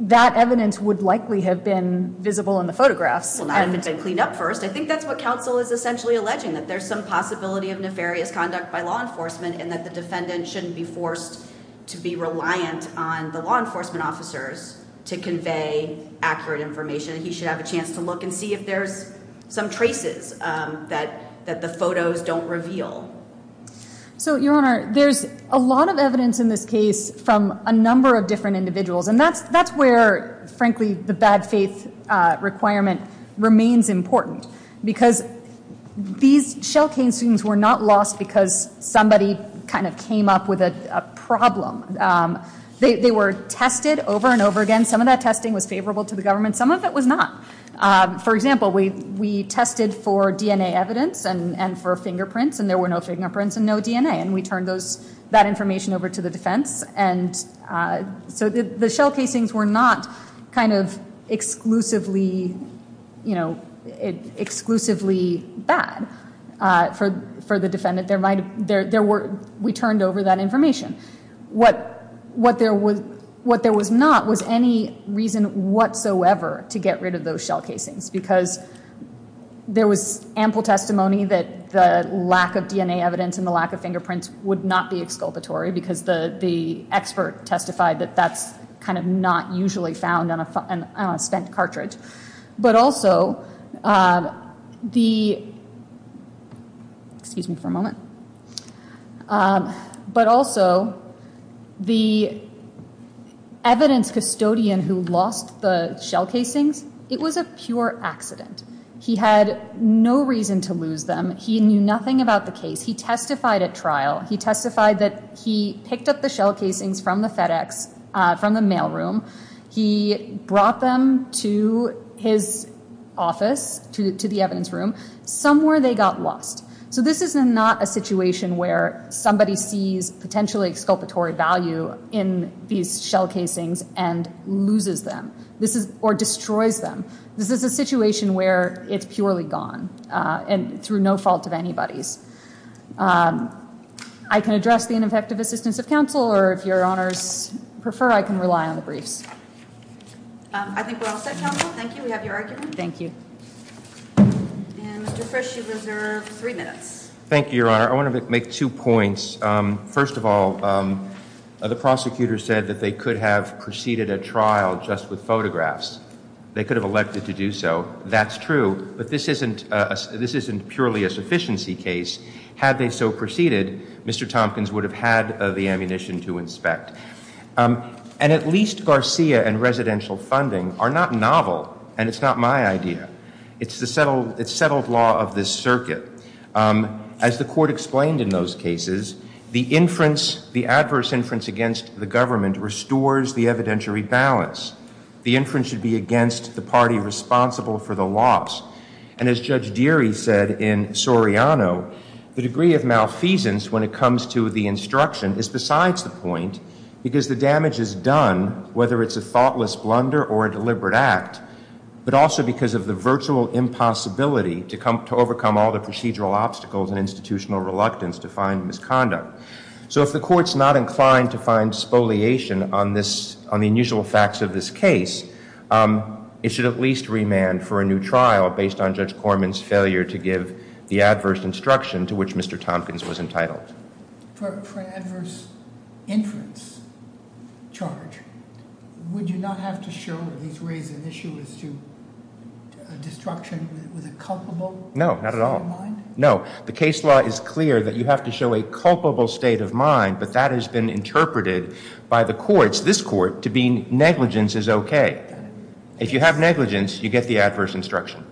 That evidence would likely have been visible in the photographs. Well, not if it's been cleaned up first. I think that's what counsel is essentially alleging. That there's some possibility of nefarious conduct by law enforcement and that the defendant shouldn't be forced to be reliant on the law enforcement officers to convey accurate information. He should have a chance to look and see if there's some traces that the photos don't reveal. So, Your Honor, there's a lot of evidence in this case from a number of different individuals and that's where, frankly, the bad faith requirement remains important. Because these shell cane students were not lost because somebody kind of came up with a problem. They were tested over and over again. Some of that testing was favorable to the government. Some of it was not. For example, we tested for DNA evidence and for fingerprints and there were no fingerprints and no DNA. And we turned that information over to the defense. So the shell casings were not kind of exclusively bad for the defendant. We turned over that information. What there was not was any reason whatsoever to get rid of those shell casings because there was ample testimony that the lack of DNA evidence and the lack of fingerprints would not be exculpatory because the expert testified that that's kind of not usually found on a spent cartridge. But also, the evidence custodian who lost the shell casings, it was a pure accident. He had no reason to lose them. He knew nothing about the case. He testified at trial. He testified that he picked up the shell casings from the FedEx, from the mailroom. He brought them to his office, to the evidence room. Somewhere they got lost. So this is not a situation where somebody sees potentially exculpatory value in these shell casings and loses them or destroys them. This is a situation where it's purely gone and through no fault of anybody's. I can address the ineffective assistance of counsel, or if Your Honors prefer, I can rely on the briefs. I think we're all set, counsel. Thank you. We have your argument. Thank you. And Mr. Frisch, you reserve three minutes. Thank you, Your Honor. I want to make two points. First of all, the prosecutor said that they could have preceded a trial just with photographs. They could have elected to do so. That's true. But this isn't purely a sufficiency case. Had they so preceded, Mr. Tompkins would have had the ammunition to inspect. And at least Garcia and residential funding are not novel, and it's not my idea. It's the settled law of this circuit. As the Court explained in those cases, the inference, the adverse inference against the government restores the evidentiary balance. The inference should be against the party responsible for the loss. And as Judge Deary said in Soriano, the degree of malfeasance when it comes to the instruction is besides the point because the damage is done whether it's a thoughtless blunder or a deliberate act, but also because of the virtual impossibility to overcome all the procedural obstacles and institutional reluctance to find misconduct. So if the Court's not inclined to find spoliation on the unusual facts of this case, it should at least remand for a new trial based on Judge Corman's failure to give the adverse instruction to which Mr. Tompkins was entitled. For an adverse inference charge, would you not have to show or at least raise an issue as to destruction with a culpable? No, not at all. No, the case law is clear that you have to show a culpable state of mind, but that has been interpreted by the courts, this Court, to mean negligence is okay. If you have negligence, you get the adverse instruction.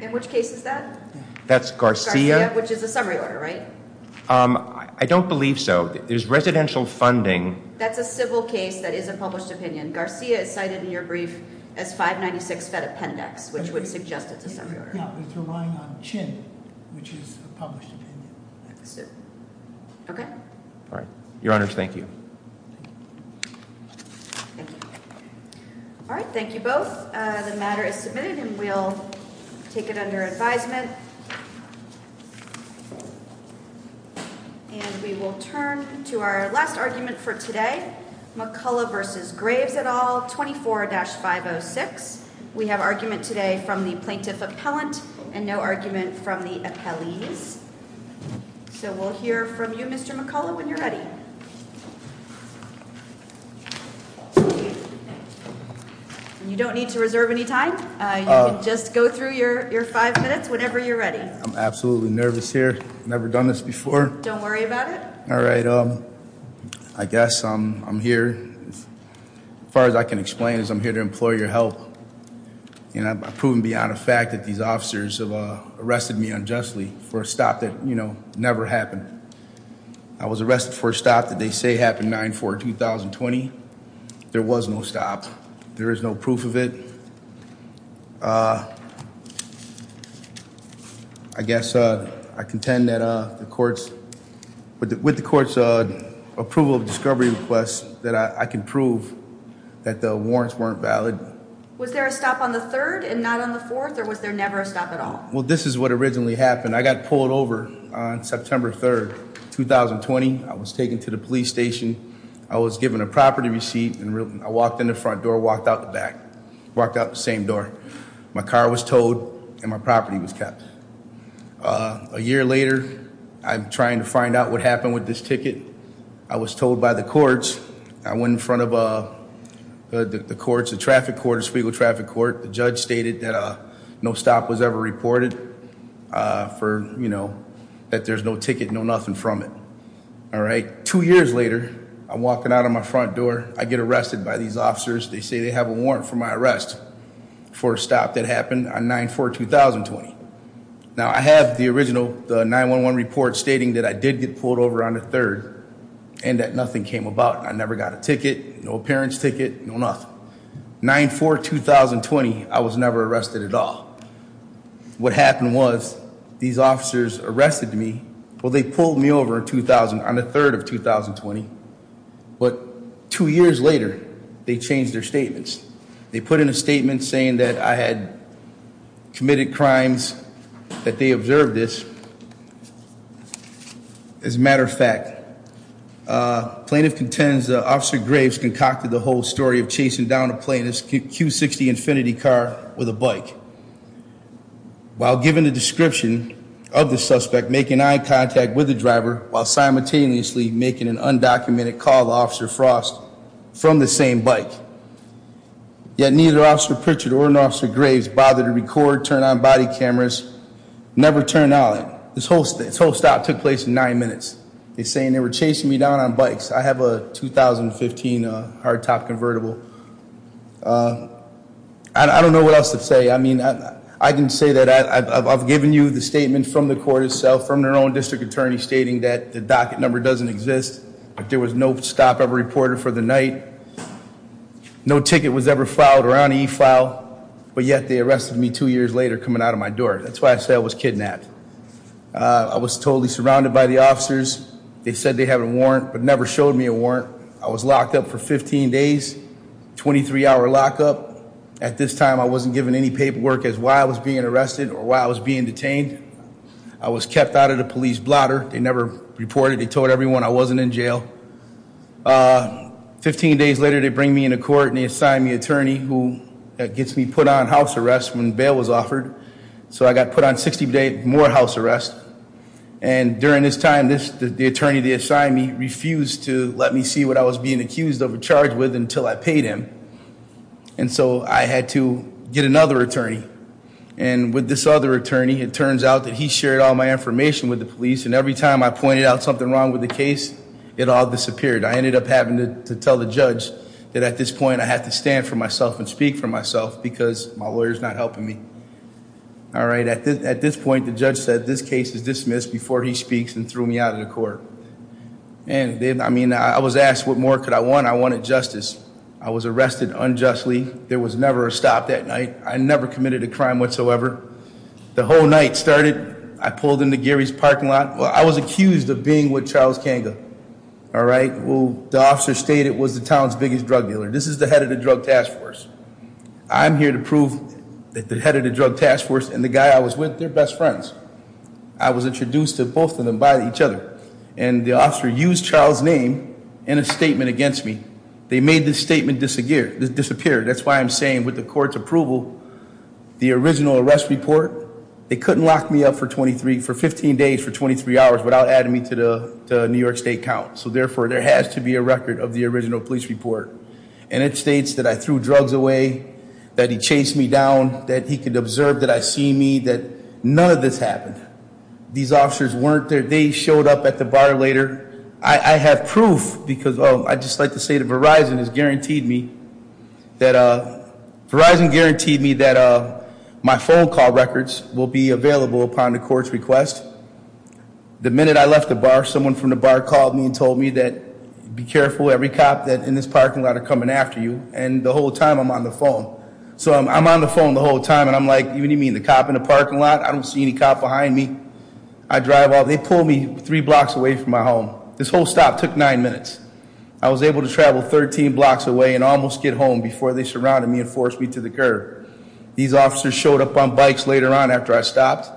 In which case is that? That's Garcia. Garcia, which is a summary order, right? I don't believe so. There's residential funding. That's a civil case that is a published opinion. Garcia is cited in your brief as 596 Fed Appendix, which would suggest it's a summary order. No, it's relying on Chin, which is a published opinion. That's it. Okay. All right. Your Honors, thank you. Thank you. All right, thank you both. The matter is submitted, and we'll take it under advisement. And we will turn to our last argument for today, McCullough v. Graves et al., 24-506. We have argument today from the plaintiff appellant and no argument from the appellees. So we'll hear from you, Mr. McCullough, when you're ready. You don't need to reserve any time. You can just go through your five minutes whenever you're ready. I'm absolutely nervous here. I've never done this before. Don't worry about it. All right. I guess I'm here. As far as I can explain is I'm here to implore your help. I've proven beyond a fact that these officers have arrested me unjustly for a stop that never happened. I was arrested for a stop that they say happened 9-4-2020. There was no stop. There is no proof of it. I guess I contend that with the court's approval of discovery request that I can prove that the warrants weren't valid. Was there a stop on the 3rd and not on the 4th, or was there never a stop at all? Well, this is what originally happened. I got pulled over on September 3rd, 2020. I was taken to the police station. I was given a property receipt, and I walked in the front door, walked out the back, walked out the same door. My car was towed, and my property was kept. A year later, I'm trying to find out what happened with this ticket. I was told by the courts. I went in front of the courts, the traffic court, the Spiegel traffic court. The judge stated that no stop was ever reported for, you know, that there's no ticket, no nothing from it. All right. Two years later, I'm walking out of my front door. I get arrested by these officers. They say they have a warrant for my arrest for a stop that happened on 9-4-2020. Now, I have the original 9-1-1 report stating that I did get pulled over on the 3rd and that nothing came about. I never got a ticket, no appearance ticket, no nothing. 9-4-2020, I was never arrested at all. What happened was these officers arrested me. Well, they pulled me over on the 3rd of 2020. But two years later, they changed their statements. They put in a statement saying that I had committed crimes, that they observed this. As a matter of fact, plaintiff contends that Officer Graves concocted the whole story of chasing down a plaintiff's Q60 Infinity car with a bike. While giving the description of the suspect, making eye contact with the driver, while simultaneously making an undocumented call to Officer Frost from the same bike. Yet neither Officer Pritchard or Officer Graves bothered to record, turn on body cameras, never turned on it. This whole stop took place in nine minutes. They're saying they were chasing me down on bikes. I have a 2015 hardtop convertible. I don't know what else to say. I mean, I can say that I've given you the statement from the court itself, from their own district attorney stating that the docket number doesn't exist. There was no stop ever reported for the night. No ticket was ever filed or on e-file, but yet they arrested me two years later coming out of my door. That's why I say I was kidnapped. I was totally surrounded by the officers. They said they have a warrant, but never showed me a warrant. I was locked up for 15 days, 23-hour lockup. At this time, I wasn't given any paperwork as to why I was being arrested or why I was being detained. I was kept out of the police blotter. They never reported. They told everyone I wasn't in jail. Fifteen days later, they bring me into court, and they assign me an attorney who gets me put on house arrest when bail was offered. So I got put on 60-day more house arrest. And during this time, the attorney they assigned me refused to let me see what I was being accused of a charge with until I paid him. And so I had to get another attorney. And with this other attorney, it turns out that he shared all my information with the police. And every time I pointed out something wrong with the case, it all disappeared. I ended up having to tell the judge that at this point I have to stand for myself and speak for myself because my lawyer's not helping me. All right, at this point, the judge said this case is dismissed before he speaks and threw me out of the court. And I mean, I was asked what more could I want. I wanted justice. I was arrested unjustly. There was never a stop that night. I never committed a crime whatsoever. The whole night started, I pulled into Gary's parking lot. Well, I was accused of being with Charles Kanga. All right, well, the officer stated it was the town's biggest drug dealer. This is the head of the drug task force. I'm here to prove that the head of the drug task force and the guy I was with, they're best friends. I was introduced to both of them by each other. And the officer used Charles' name in a statement against me. They made this statement disappear. That's why I'm saying with the court's approval, the original arrest report, they couldn't lock me up for 15 days for 23 hours without adding me to the New York State count. So therefore, there has to be a record of the original police report. And it states that I threw drugs away, that he chased me down, that he could observe that I see me, that none of this happened. These officers weren't there. They showed up at the bar later. I have proof because, oh, I'd just like to say that Verizon has guaranteed me that my phone call records will be available upon the court's request. The minute I left the bar, someone from the bar called me and told me that, be careful, every cop in this parking lot are coming after you, and the whole time I'm on the phone. So I'm on the phone the whole time, and I'm like, you mean the cop in the parking lot? I don't see any cop behind me. I drive off. They pull me three blocks away from my home. This whole stop took nine minutes. I was able to travel 13 blocks away and almost get home before they surrounded me and forced me to the curb. These officers showed up on bikes later on after I stopped,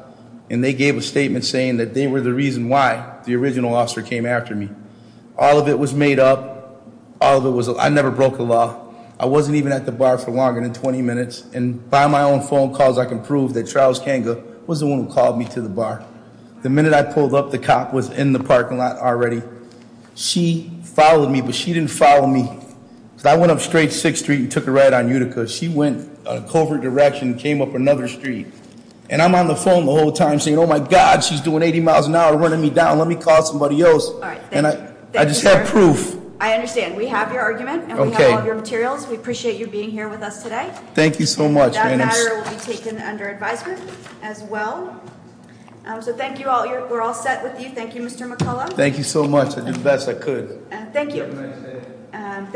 and they gave a statement saying that they were the reason why the original officer came after me. All of it was made up. I never broke the law. I wasn't even at the bar for longer than 20 minutes, and by my own phone calls, I can prove that Charles Kanga was the one who called me to the bar. The minute I pulled up, the cop was in the parking lot already. She followed me, but she didn't follow me. So I went up straight 6th Street and took a right on Utica. She went in a covert direction and came up another street. And I'm on the phone the whole time saying, oh my God, she's doing 80 miles an hour running me down. Let me call somebody else. I just have proof. I understand. We have your argument and we have all of your materials. We appreciate you being here with us today. Thank you so much. That matter will be taken under advisement as well. So thank you all. We're all set with you. Thank you, Mr. McCullough. Thank you so much. I did the best I could. Thank you.